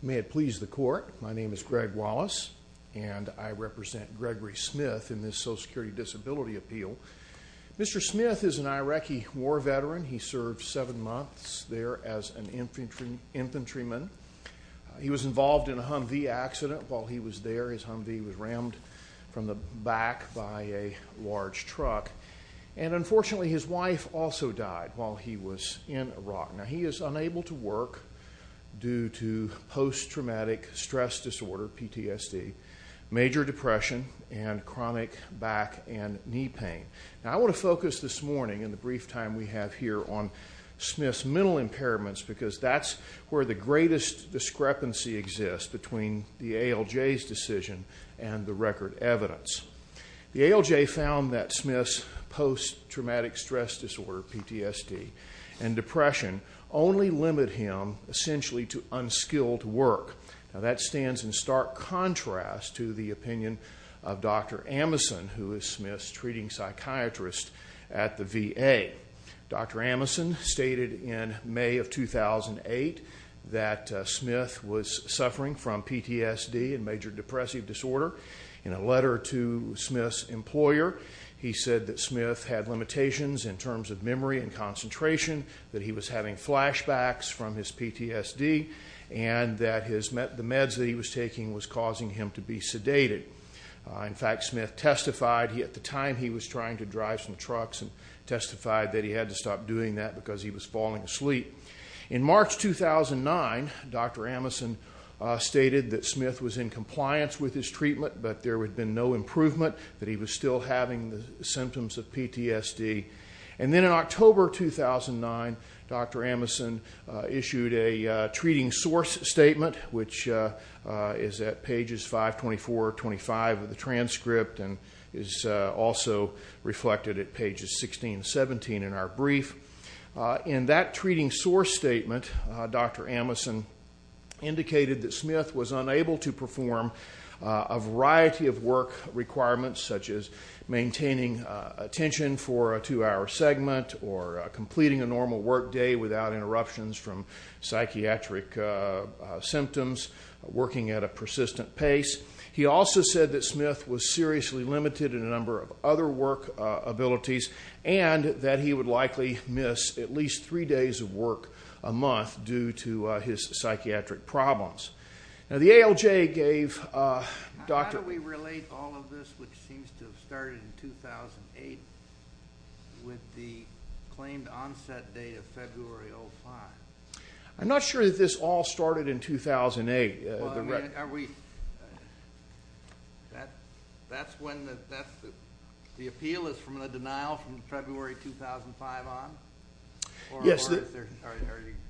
May it please the Court, my name is Greg Wallace and I represent Gregory Smith in this Social Security Disability Appeal. Mr. Smith is an Iraqi war veteran. He served seven months there as an infantryman. He was involved in a Humvee accident while he was there. His Humvee was rammed from the back by a large truck. And unfortunately his wife also died while he was in Iraq. Now he is unable to work due to post-traumatic stress disorder, PTSD, major depression, and chronic back and knee pain. Now I want to focus this morning in the brief time we have here on Smith's mental impairments because that's where the greatest discrepancy exists between the ALJ's decision and the record evidence. The ALJ found that Smith's post-traumatic stress disorder, PTSD, and depression only limit him essentially to unskilled work. Now that stands in stark contrast to the opinion of Dr. Amason who is Smith's treating psychiatrist at the VA. Dr. Amason stated in May of 2008 that Smith was suffering from PTSD and major depressive disorder. In a letter to Smith's employer, he said that Smith had limitations in terms of memory and concentration, that he was having flashbacks from his PTSD, and that the meds that he was taking was causing him to be sedated. In fact, Smith testified at the time he was trying to drive some trucks and testified that he had to stop doing that because he was falling asleep. In March 2009, Dr. Amason stated that Smith was in compliance with his treatment but there had been no improvement, that he was still having the symptoms of PTSD. And then in October 2009, Dr. Amason issued a treating source statement which is at pages 524 or 525 of the transcript and is also reflected at pages 16 and 17 in our brief. In that treating source statement, Dr. Amason indicated that maintaining attention for a two-hour segment or completing a normal work day without interruptions from psychiatric symptoms, working at a persistent pace. He also said that Smith was seriously limited in a number of other work abilities and that he would likely miss at least three in 2008 with the claimed onset date of February 05. I'm not sure that this all started in 2008. That's when the appeal is from the denial from February 2005 on? Yes. Are you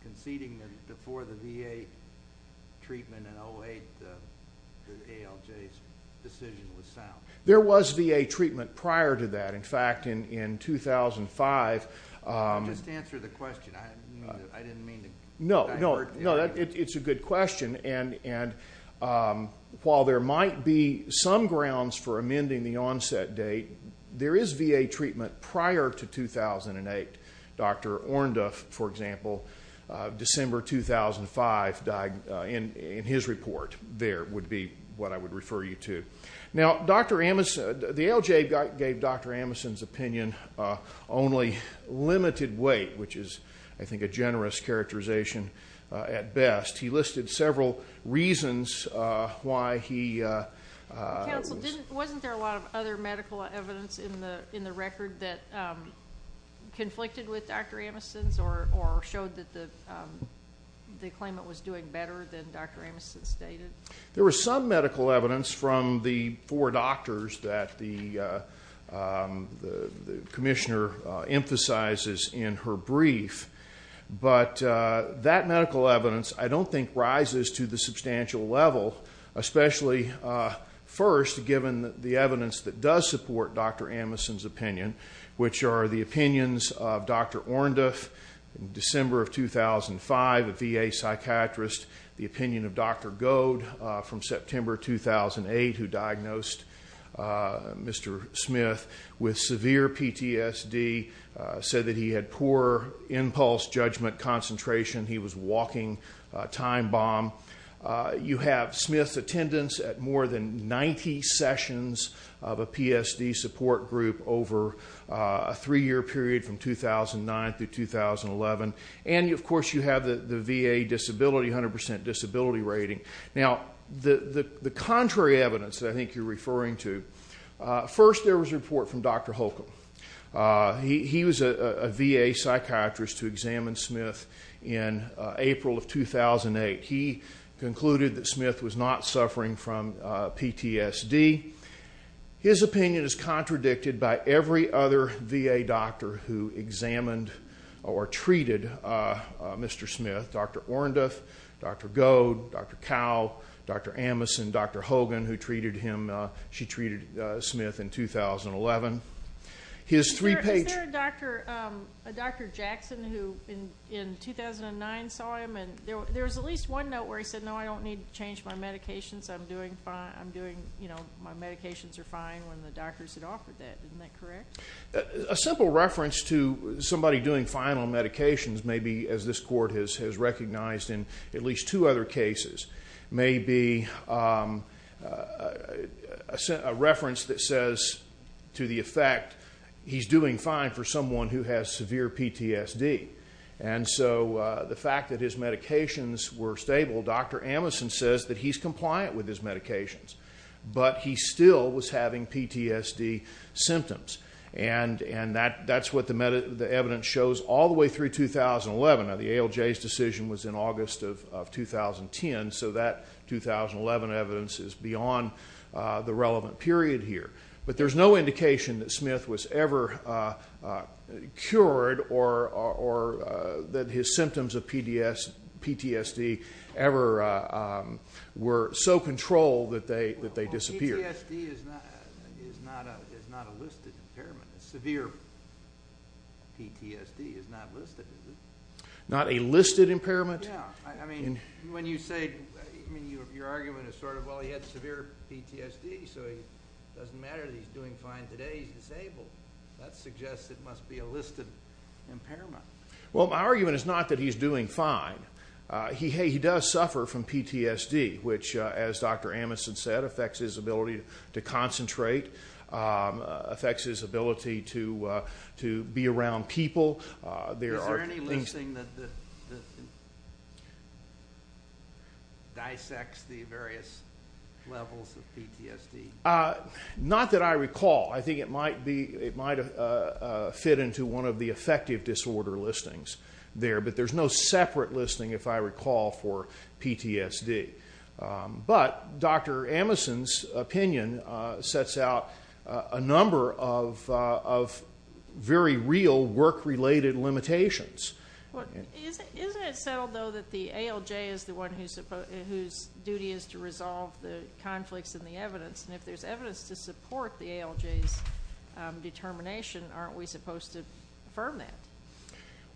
conceding that before the VA treatment in 08, the ALJ's decision was sound? There was VA treatment prior to that. In fact, in 2005... Just answer the question. I didn't mean to... No, it's a good question and while there might be some grounds for amending the onset date, there is VA treatment prior to 2008. Dr. Orndorff, for example, December 2005, in his report, there would be what I would refer you to. Now, the ALJ gave Dr. Amason's opinion only limited weight, which is, I think, a generous characterization at best. He listed several reasons why he... Counsel, wasn't there a lot of other medical evidence in the record that conflicted with Dr. Amason's or showed that the claimant was doing better than Dr. Amason stated? There was some medical evidence from the four doctors that the commissioner emphasizes in her brief, but that medical evidence, I don't think, rises to the substantial level, especially first given the evidence that does support Dr. Amason's opinion, which are the opinions of Dr. Orndorff in December of 2005, a VA psychiatrist. The opinion of Dr. Goad from Pulse Judgment Concentration. He was walking a time bomb. You have Smith's attendance at more than 90 sessions of a PSD support group over a three-year period from 2009 to 2011. And, of course, you have the VA disability, 100% disability rating. Now, the contrary evidence that I think you're referring to, first there was a report from Dr. Holcomb. He was a VA psychiatrist who examined Smith in April of 2008. He concluded that Smith was not suffering from PTSD. His opinion is contradicted by every other VA doctor who examined or treated Mr. Smith. Dr. Orndorff, Dr. Goad, Dr. Cowell, Dr. Amason, Dr. Hogan, who treated him, she treated Smith in 2011. His three-page- Is there a Dr. Jackson who, in 2009, saw him and there was at least one note where he said, no, I don't need to change my medications. I'm doing, you know, my medications are fine when the doctors had offered that. Isn't that correct? A simple reference to somebody doing fine on medications may be, as this court has recognized in at least two other cases, may be a reference that says to the effect, he's doing fine for someone who has severe PTSD. And so the fact that his medications were stable, Dr. Amason says that he's compliant with his medications, but he still was having PTSD symptoms. And that's what the evidence shows all the way through 2011. Now, the ALJ's decision was in August of 2010, so that 2011 evidence is beyond the relevant period here. But there's no indication that Smith was ever cured or that his symptoms of PTSD ever were so controlled that they disappeared. PTSD is not a listed impairment. Severe PTSD is not listed, is it? Not a listed impairment? Yeah. I mean, when you say, I mean, your argument is sort of, well, he had severe PTSD, so it doesn't matter that he's doing fine today. He's disabled. That suggests it must be a listed impairment. Well, my argument is not that he's doing fine. He does suffer from PTSD, which, as Dr. Amason said, affects his ability to concentrate, affects his ability to be around people. Is there any listing that dissects the various levels of PTSD? Not that I recall. I think it might be, it might fit into one of the affective disorder listings there, but there's no separate listing, if I recall, for PTSD. But Dr. Amason's opinion sets out a number of very real work-related limitations. Isn't it settled, though, that the ALJ is the one whose duty is to resolve the conflicts and the evidence? And if there's evidence to support the ALJ's determination, aren't we supposed to affirm that?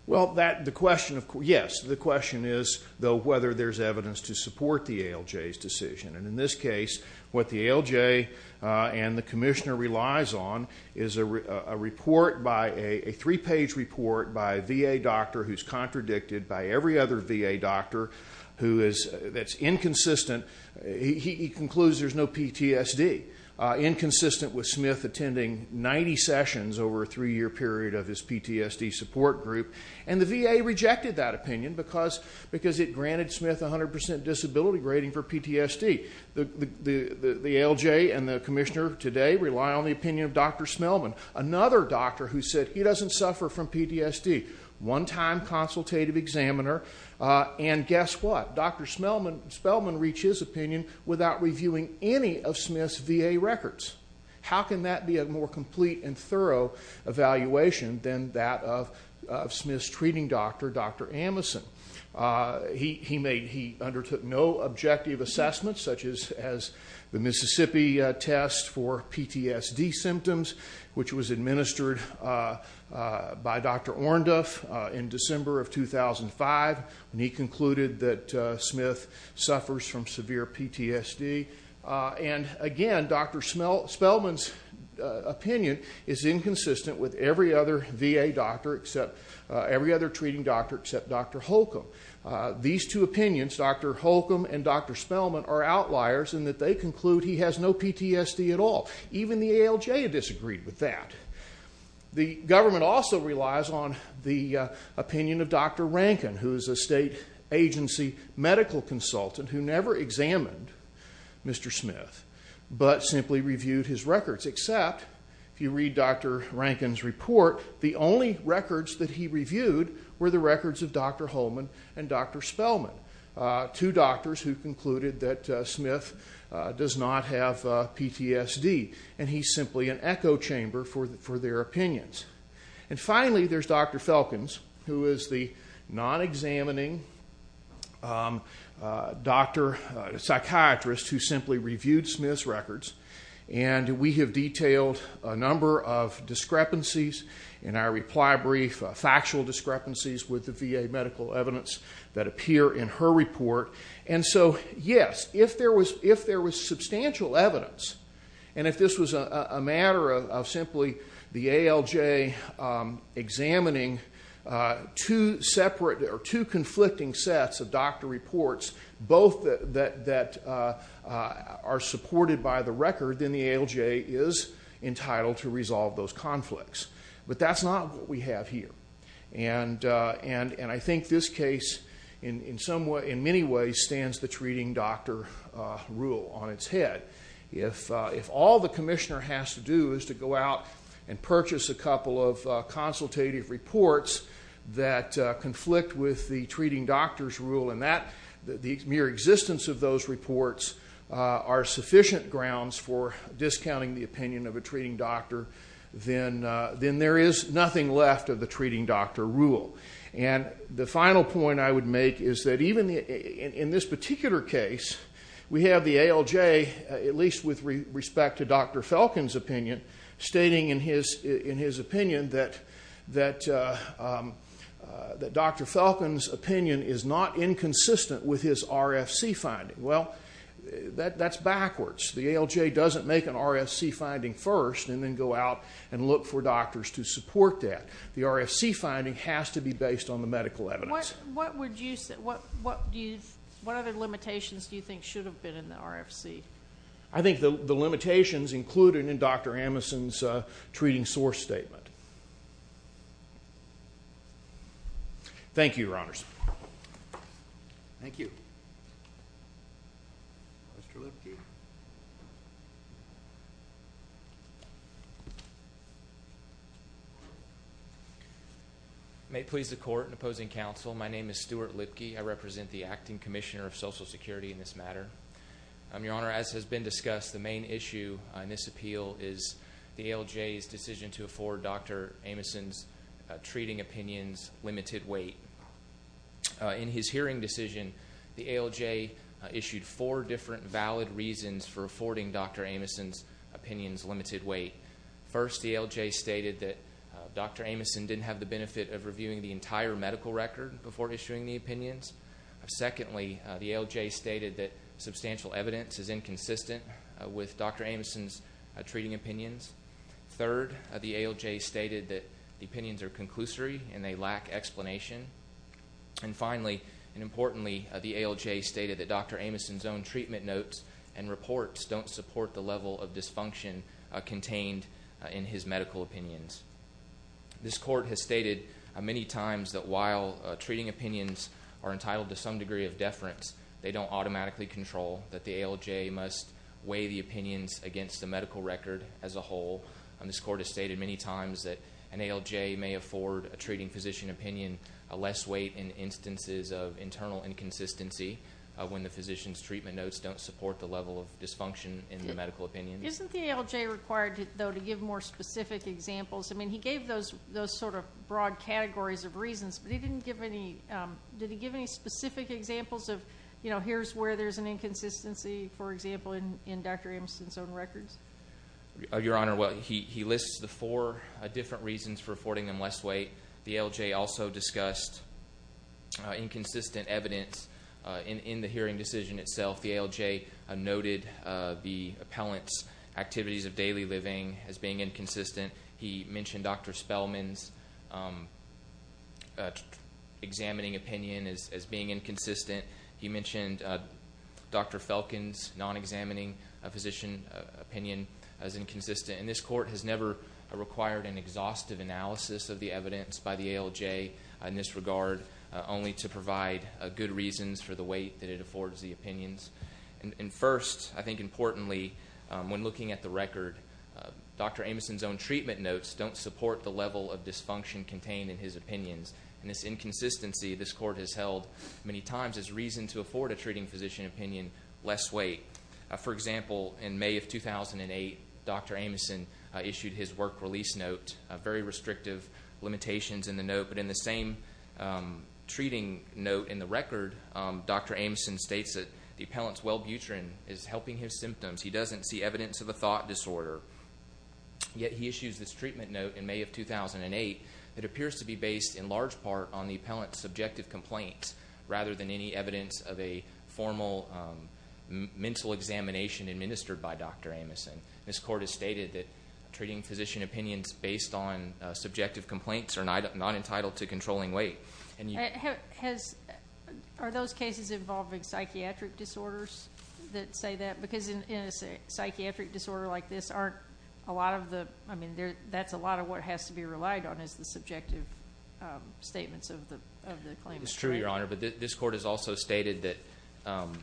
Well, that, the question, yes, the question is, though, whether there's evidence to support the ALJ's decision. And in this case, what the ALJ and the commissioner relies on is a report by, a three-page report by a VA doctor who's contradicted by every other VA doctor who is, that's inconsistent. He concludes there's no PTSD, inconsistent with Smith attending 90 sessions over a three-year period of his PTSD support group. And the VA rejected that rating for PTSD. The ALJ and the commissioner today rely on the opinion of Dr. Spelman, another doctor who said he doesn't suffer from PTSD, one-time consultative examiner. And guess what? Dr. Spelman reached his opinion without reviewing any of Smith's VA records. How can that be a more complete and thorough evaluation than that of Smith's treating doctor, Dr. Amason? He made, he undertook no objective assessments, such as the Mississippi test for PTSD symptoms, which was administered by Dr. Ornduff in December of 2005, and he concluded that Smith suffers from severe PTSD. And again, Dr. Spelman's opinion is inconsistent with every other VA doctor except, every other treating doctor except Dr. Holcomb. These two opinions, Dr. Holcomb and Dr. Spelman, are outliers in that they conclude he has no PTSD at all. Even the ALJ disagreed with that. The government also relies on the opinion of Dr. Rankin, who is a state agency medical consultant who never examined Mr. Smith, but simply reviewed his records. Except, if you read Dr. Rankin's report, the only records that he reviewed were the records of Dr. Holcomb and Dr. Spelman, two doctors who concluded that Smith does not have PTSD, and he's simply an echo chamber for their opinions. And finally, there's Dr. Felkins, who is the non-examining psychiatrist who simply reviewed Smith's records, and we have detailed a number of discrepancies in our reply brief, factual discrepancies with the VA medical evidence that appear in her report. And so, yes, if there was substantial evidence, and if this was a matter of simply the ALJ examining two conflicting sets of doctor reports, both that are supported by the record, then the ALJ is entitled to resolve those conflicts. But that's not what we have here. And I think this case, in many ways, stands the treating doctor rule on its head. If all the commissioner has to do is to go out and purchase a couple of consultative reports that conflict with the treating doctor's rule, and the mere existence of those reports are sufficient grounds for discounting the opinion of a treating doctor, then there is nothing left of the treating doctor rule. And the final point I would make is that even in this particular case, we have the ALJ, at least with respect to Dr. Felkin's opinion, stating in his opinion that Dr. Felkin's opinion is not inconsistent with his RFC finding. Well, that's backwards. The ALJ doesn't make an RFC finding first and then go out and look for doctors to support that. The RFC finding has to be based on the medical evidence. What other limitations do you think should have been in the RFC? I think the limitations included in Dr. Amason's treating source statement. Thank you. Mr. Lipke. May it please the Court and opposing counsel, my name is Stuart Lipke. I represent the Acting Commissioner of Social Security in this matter. Your Honor, as has been discussed, the main issue in this appeal is the ALJ's decision to afford Dr. Amason's treating opinion's limited weight. In his hearing decision, the ALJ issued four different valid reasons for affording Dr. Amason's opinion's limited weight. First, the ALJ stated that Dr. Amason didn't have the benefit of reviewing the entire medical record before issuing the opinions. Secondly, the ALJ stated that substantial evidence is inconsistent with Dr. Amason's treating opinions. Third, the ALJ stated that the opinions are conclusory and they lack explanation. And finally, and importantly, the ALJ stated that Dr. Amason's own treatment notes and reports don't support the level of dysfunction contained in his medical opinions. This Court has stated many times that while treating opinions are entitled to some degree of deference, they don't automatically control that the ALJ must weigh the opinions against the medical record as a whole. This Court has stated many times that an ALJ may afford a treating physician opinion less weight in instances of internal inconsistency when the physician's treatment notes don't support the level of dysfunction in the medical opinion. Isn't the ALJ required, though, to give more specific examples? I mean, he gave those sort of broad categories of reasons, but he didn't give any, did he give any specific examples of, you know, here's where there's an inconsistency, for example, in Dr. Amason's own records? Your Honor, well, he lists the four different reasons for affording them less weight. The ALJ also discussed inconsistent evidence in the hearing decision itself. The ALJ noted the appellant's activities of daily living as being inconsistent. He mentioned Dr. Spellman's examining opinion as being inconsistent. He mentioned Dr. Felkin's non-examining physician opinion as inconsistent. And this Court has never required an exhaustive analysis of the evidence by the ALJ in this regard, only to provide good reasons for the weight that it affords the opinions. And first, I think importantly, when looking at the record, Dr. Amason's own treatment notes don't support the level of dysfunction contained in his opinions. And this inconsistency this Court has held many times as reason to In May of 2008, Dr. Amason issued his work release note, very restrictive limitations in the note. But in the same treating note in the record, Dr. Amason states that the appellant's Welbutrin is helping his symptoms. He doesn't see evidence of a thought disorder. Yet he issues this treatment note in May of 2008 that appears to be based in large part on the appellant's subjective complaints rather than any evidence of a formal mental examination administered by Dr. Amason. This Court has stated that treating physician opinions based on subjective complaints are not entitled to controlling weight. Are those cases involving psychiatric disorders that say that? Because in a psychiatric disorder like this, that's a lot of what has to be relied on is the subjective statements of the claimant. It's true, Your Honor. But this Court has stated that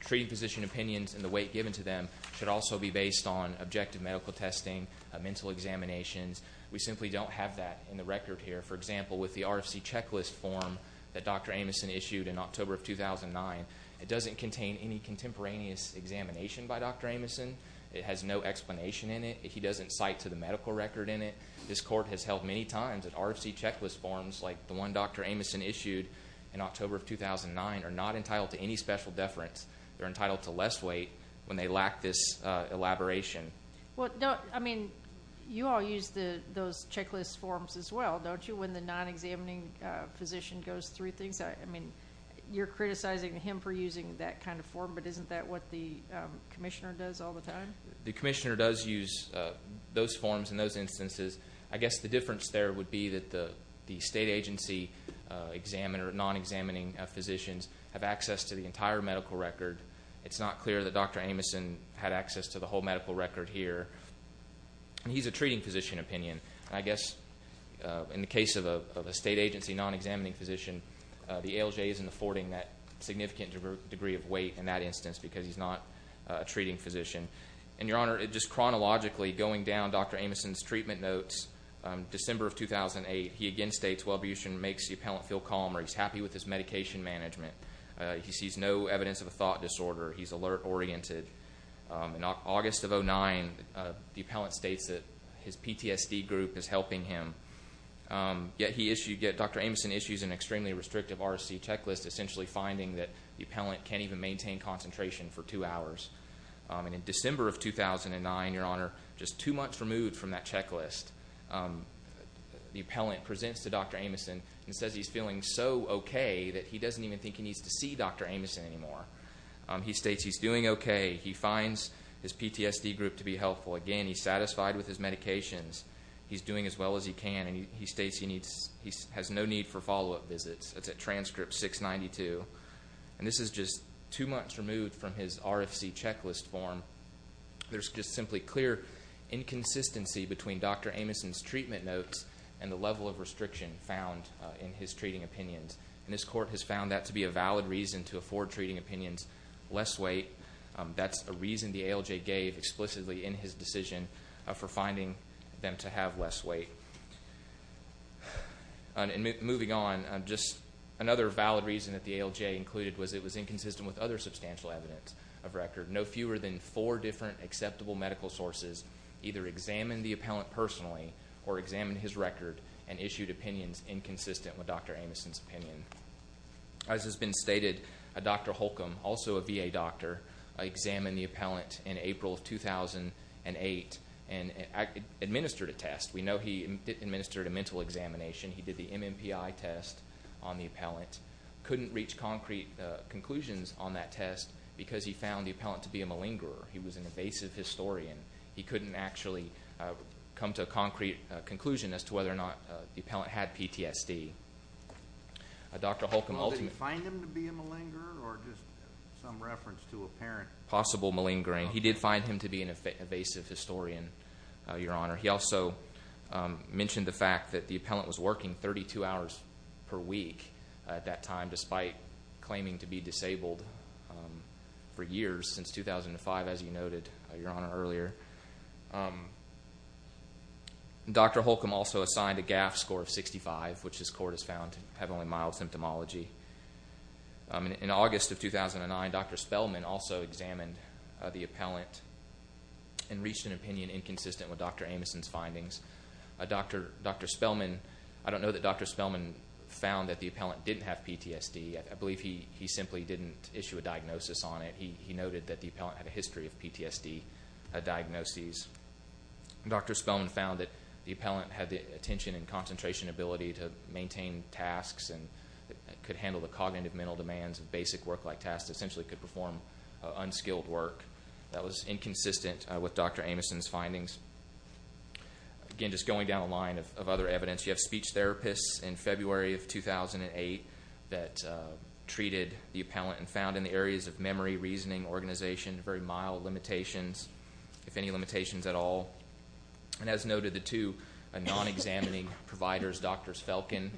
treating physician opinions and the weight given to them should also be based on objective medical testing, mental examinations. We simply don't have that in the record here. For example, with the RFC checklist form that Dr. Amason issued in October of 2009, it doesn't contain any contemporaneous examination by Dr. Amason. It has no explanation in it. He doesn't cite to the medical record in it. This Court has held many times that RFC checklist forms like the one Dr. Amason issued in October of 2009 are not entitled to any special deference. They're entitled to less weight when they lack this elaboration. You all use those checklist forms as well, don't you, when the non-examining physician goes through things? You're criticizing him for using that kind of form, but isn't that what the commissioner does all the time? The commissioner does use those forms in those cases. The state agency examiner, non-examining physicians have access to the entire medical record. It's not clear that Dr. Amason had access to the whole medical record here. He's a treating physician opinion. I guess in the case of a state agency non-examining physician, the ALJ isn't affording that significant degree of weight in that instance because he's not a treating physician. And Your Honor, just chronologically, going down Dr. Amason's treatment notes, December of 2008, he again states wellbution makes the appellant feel calm or he's happy with his medication management. He sees no evidence of a thought disorder. He's alert oriented. In August of 2009, the appellant states that his PTSD group is helping him, yet Dr. Amason issues an extremely restrictive RFC checklist, essentially finding that the appellant can't even maintain concentration for two hours. And in December of 2009, Your Honor, in that checklist, the appellant presents to Dr. Amason and says he's feeling so okay that he doesn't even think he needs to see Dr. Amason anymore. He states he's doing okay. He finds his PTSD group to be helpful. Again, he's satisfied with his medications. He's doing as well as he can. And he states he has no need for follow-up visits. That's at transcript 692. And this is just two months removed from his RFC checklist form. There's just simply clear inconsistency between Dr. Amason's treatment notes and the level of restriction found in his treating opinions. And this court has found that to be a valid reason to afford treating opinions less weight. That's a reason the ALJ gave explicitly in his decision for finding them to have less weight. Moving on, just another valid reason that the ALJ included was it was inconsistent with other substantial evidence of record. No fewer than four different acceptable medical sources either examined the appellant personally or examined his record and issued opinions inconsistent with Dr. Amason's opinion. As has been stated, Dr. Holcomb, also a VA doctor, examined the appellant in April of 2008 and administered a test. We know he administered a mental examination. He did the MMPI test on the appellant. Couldn't reach concrete conclusions on that test because he found the appellant to be a malingerer. He was an evasive historian. He couldn't actually come to a concrete conclusion as to whether or not the appellant had PTSD. Well, did he find him to be a malingerer or just some reference to a parent? Possible malingering. He did find him to be an evasive historian, Your Honor. He also mentioned the fact that the appellant was working 32 hours per week at that time despite claiming to be disabled for years since 2005, as you noted, Your Honor, earlier. Dr. Holcomb also assigned a GAF score of 65, which this court has found to have only mild symptomology. In August of 2009, Dr. Spellman also examined the appellant and reached an opinion inconsistent with Dr. Amason's findings. Dr. Spellman, I don't know that Dr. Spellman found that the appellant didn't have PTSD. I believe he simply didn't issue a diagnosis on it. He noted that the appellant had a history of PTSD diagnoses. Dr. Spellman found that the appellant had the attention and concentration ability to maintain tasks and could handle the cognitive mental demands of basic work-like tasks, essentially could perform unskilled work. That was inconsistent with Dr. Amason's findings. Again, just going down the line of other evidence, you have speech therapists in February of 2008 that treated the appellant and found in the areas of memory, reasoning, organization, very mild limitations, if any limitations at all. And as noted, the two non-examining providers, Drs. Felkin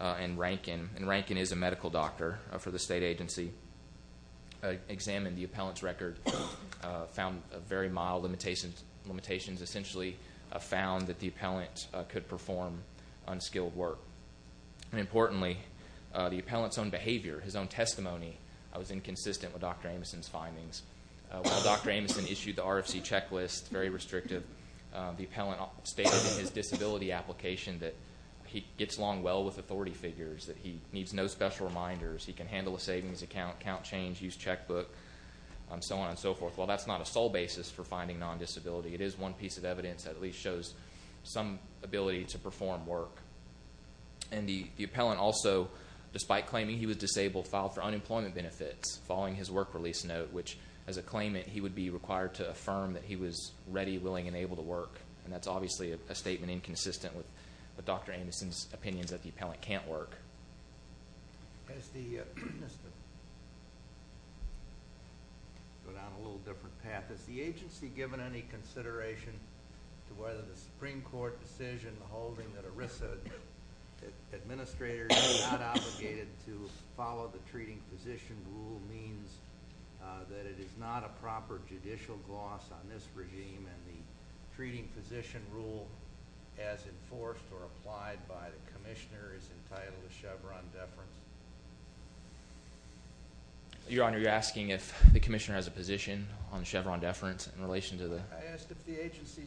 and Rankin, and Rankin is a medical doctor for the state agency, examined the appellant's record, found very mild limitations, essentially found that the appellant could perform unskilled work. And importantly, the appellant's own behavior, his own testimony was inconsistent with Dr. Amason's findings. While Dr. Amason issued the RFC checklist, very restrictive, the appellant stated in his disability application that he gets along well with authority figures, that he needs no special reminders, he can handle a savings account, count change, use checkbook, and so on and so forth. While that's not a sole basis for finding non-disability, it is one piece of evidence that at least shows some ability to perform work. And the appellant also, despite claiming he was disabled, filed for unemployment benefits following his work release note, which as a claimant, he would be required to affirm that he was ready, willing, and able to work. And that's obviously a statement inconsistent with Dr. Amason's opinions that the appellant can't work. As the... Go down a little different path. Has the agency given any consideration to whether the Supreme Court decision holding that ERISA administrators were not obligated to follow the treating physician rule means that it is not a proper judicial gloss on this regime and the treating physician rule is not a proper judicial gloss on this regime? I'm asking if the commissioner is entitled to Chevron deference. Your Honor, you're asking if the commissioner has a position on Chevron deference in relation to the... I asked if the agency...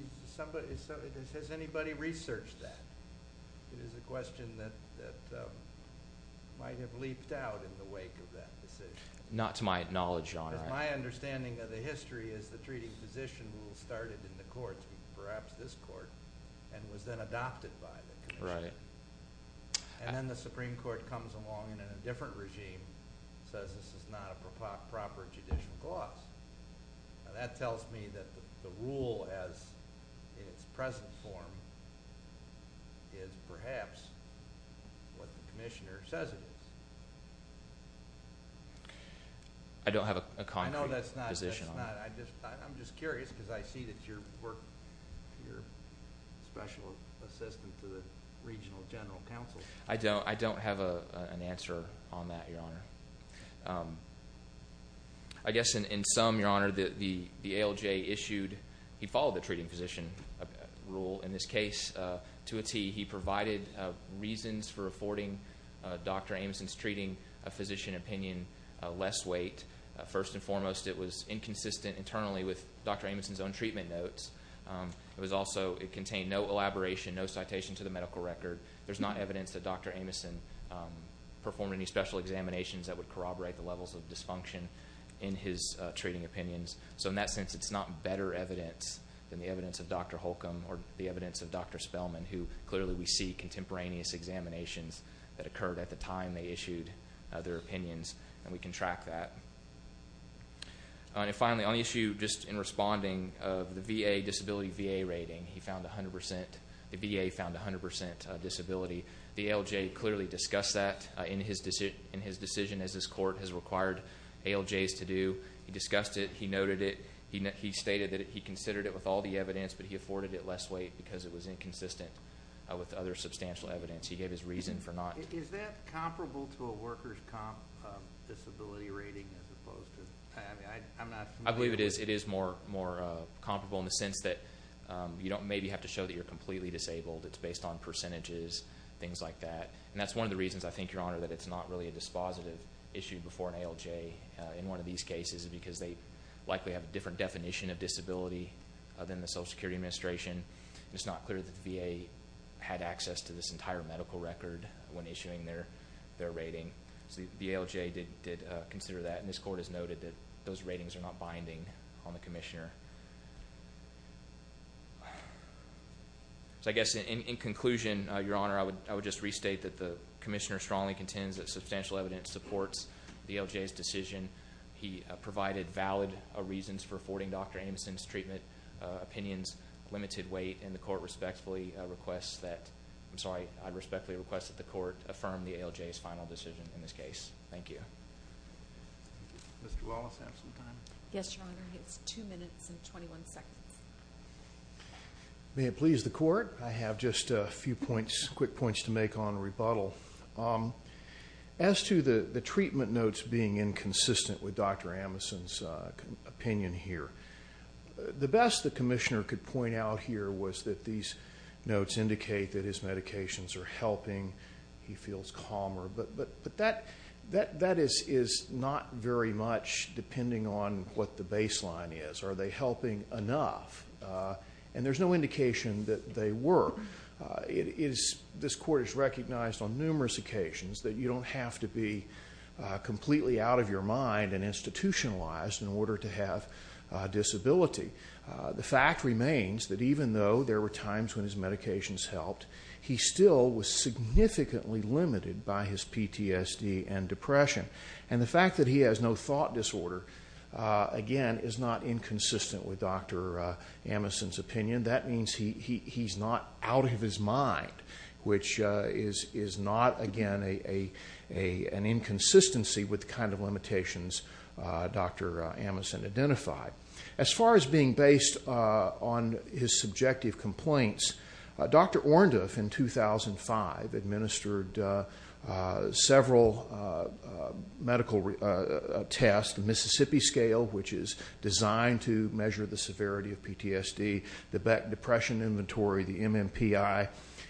Has anybody researched that? It is a question that might have leaped out in the wake of that decision. Not to my knowledge, Your Honor. My understanding of the history is the treating physician rule started in the courts, perhaps this court, and was then adopted by the commissioner. Right. And then the Supreme Court comes along and in a different regime says this is not a proper judicial gloss. Now that tells me that the rule as in its present form is perhaps what the commissioner says it is. I don't have a concrete position on it. I know that's not... I'm just curious because I see that your work, your special assistant to the Regional General Counsel. I don't have an answer on that, Your Honor. I guess in sum, Your Honor, the ALJ issued... He followed the treating physician rule in this case to a T. He provided reasons for affording Dr. Ameson's treating physician opinion less weight. First and foremost, it was inconsistent internally with Dr. Ameson's own treatment notes. It also contained no elaboration, no citation to the medical record. There's not evidence that Dr. Ameson performed any special examinations that would corroborate the levels of dysfunction in his treating opinions. So in that sense, it's not better evidence than the evidence of Dr. Holcomb or the evidence of Dr. Spellman, who clearly we see contemporaneous examinations that occurred at the time they issued their opinions, and we can track that. And finally, on the issue just in responding of the VA disability rating, he found 100%... The VA found 100% disability. The ALJ clearly discussed that in his decision, as this court has required ALJs to do. He discussed it. He noted it. He stated that he considered it with all the evidence, but he afforded it less weight because it was inconsistent with other substantial evidence. He gave his reason for not... Is that comparable to a worker's disability rating as opposed to... I mean, I'm not familiar... I believe it is. It is more comparable in the sense that you don't maybe have to show that you're completely disabled. It's based on percentages, things like that. And that's one of the reasons, I think, Your Honor, that it's not really a dispositive issue before an ALJ in one of these cases, because they likely have a different definition of disability than the Social Security Administration. It's not clear that the VA had access to this entire medical record when issuing their rating. So the ALJ did consider that, and this court has noted that those ratings are not binding on the commissioner. So I guess in conclusion, Your Honor, I would just restate that the commissioner strongly contends that substantial evidence supports the ALJ's decision. He provided valid reasons for affording Dr. Ameson's treatment, opinions, limited weight, and the court respectfully requests that... I'm sorry, I respectfully request that the court affirm the ALJ's final decision in this case. Thank you. Mr. Wallace, have some time. Yes, Your Honor. It's 2 minutes and 21 seconds. May it please the court? I have just a few points, quick points to make on rebuttal. As to the treatment notes being inconsistent with Dr. Ameson's opinion here, the best the commissioner could point out here was that these notes indicate that his medications are helping, he feels calmer. But that is not very much depending on what the baseline is. Are they helping enough? And there's no indication that they were. This court has recognized on numerous occasions that you don't have to be completely out of your mind and institutionalized in order to have a disability. The fact remains that even though there were times when his medications helped, he still was significantly limited by his PTSD and depression. And the fact that he has no thought disorder, again, is not inconsistent with Dr. Ameson's opinion. That means he's not out of his mind, which is not, again, an inconsistency with the kind of limitations Dr. Ameson identified. As far as being based on his subjective complaints, Dr. Orndorff in 2005 administered several medical tests, the Mississippi scale, which is designed to measure the severity of PTSD, the Beck Depression Inventory, the MMPI.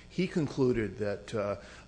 He concluded that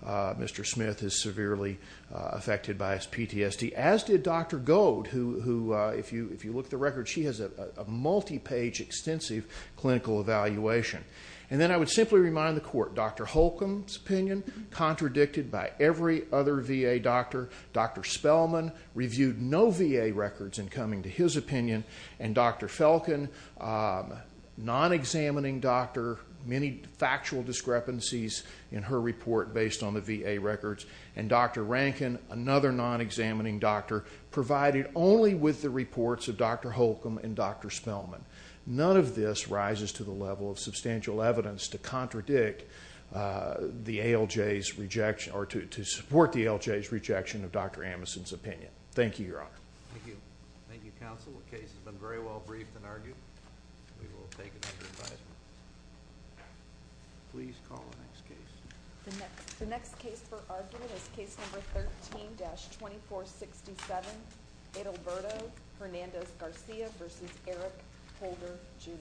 Mr. Smith is severely affected by his PTSD, as did Dr. Goad, who if you look at the records, she has a multi-page extensive clinical evaluation. And then I would simply remind the court, Dr. Holcomb's opinion, contradicted by every other VA doctor. Dr. Spellman reviewed no VA records in coming to his opinion. And Dr. Felkin, non-examining doctor, many factual discrepancies in her report based on the VA records. And Dr. Rankin, another non-examining doctor, provided only with the reports of Dr. Holcomb and Dr. Spellman. None of this rises to the level of substantial evidence to contradict the ALJ's rejection, or to support the ALJ's rejection of Dr. Holcomb. Thank you, counsel. The case has been very well briefed and argued. We will take it under advisement. Please call the next case. The next case for argument is case number 13-2467, Edalberto Hernandez Garcia v. Eric Holder Jr.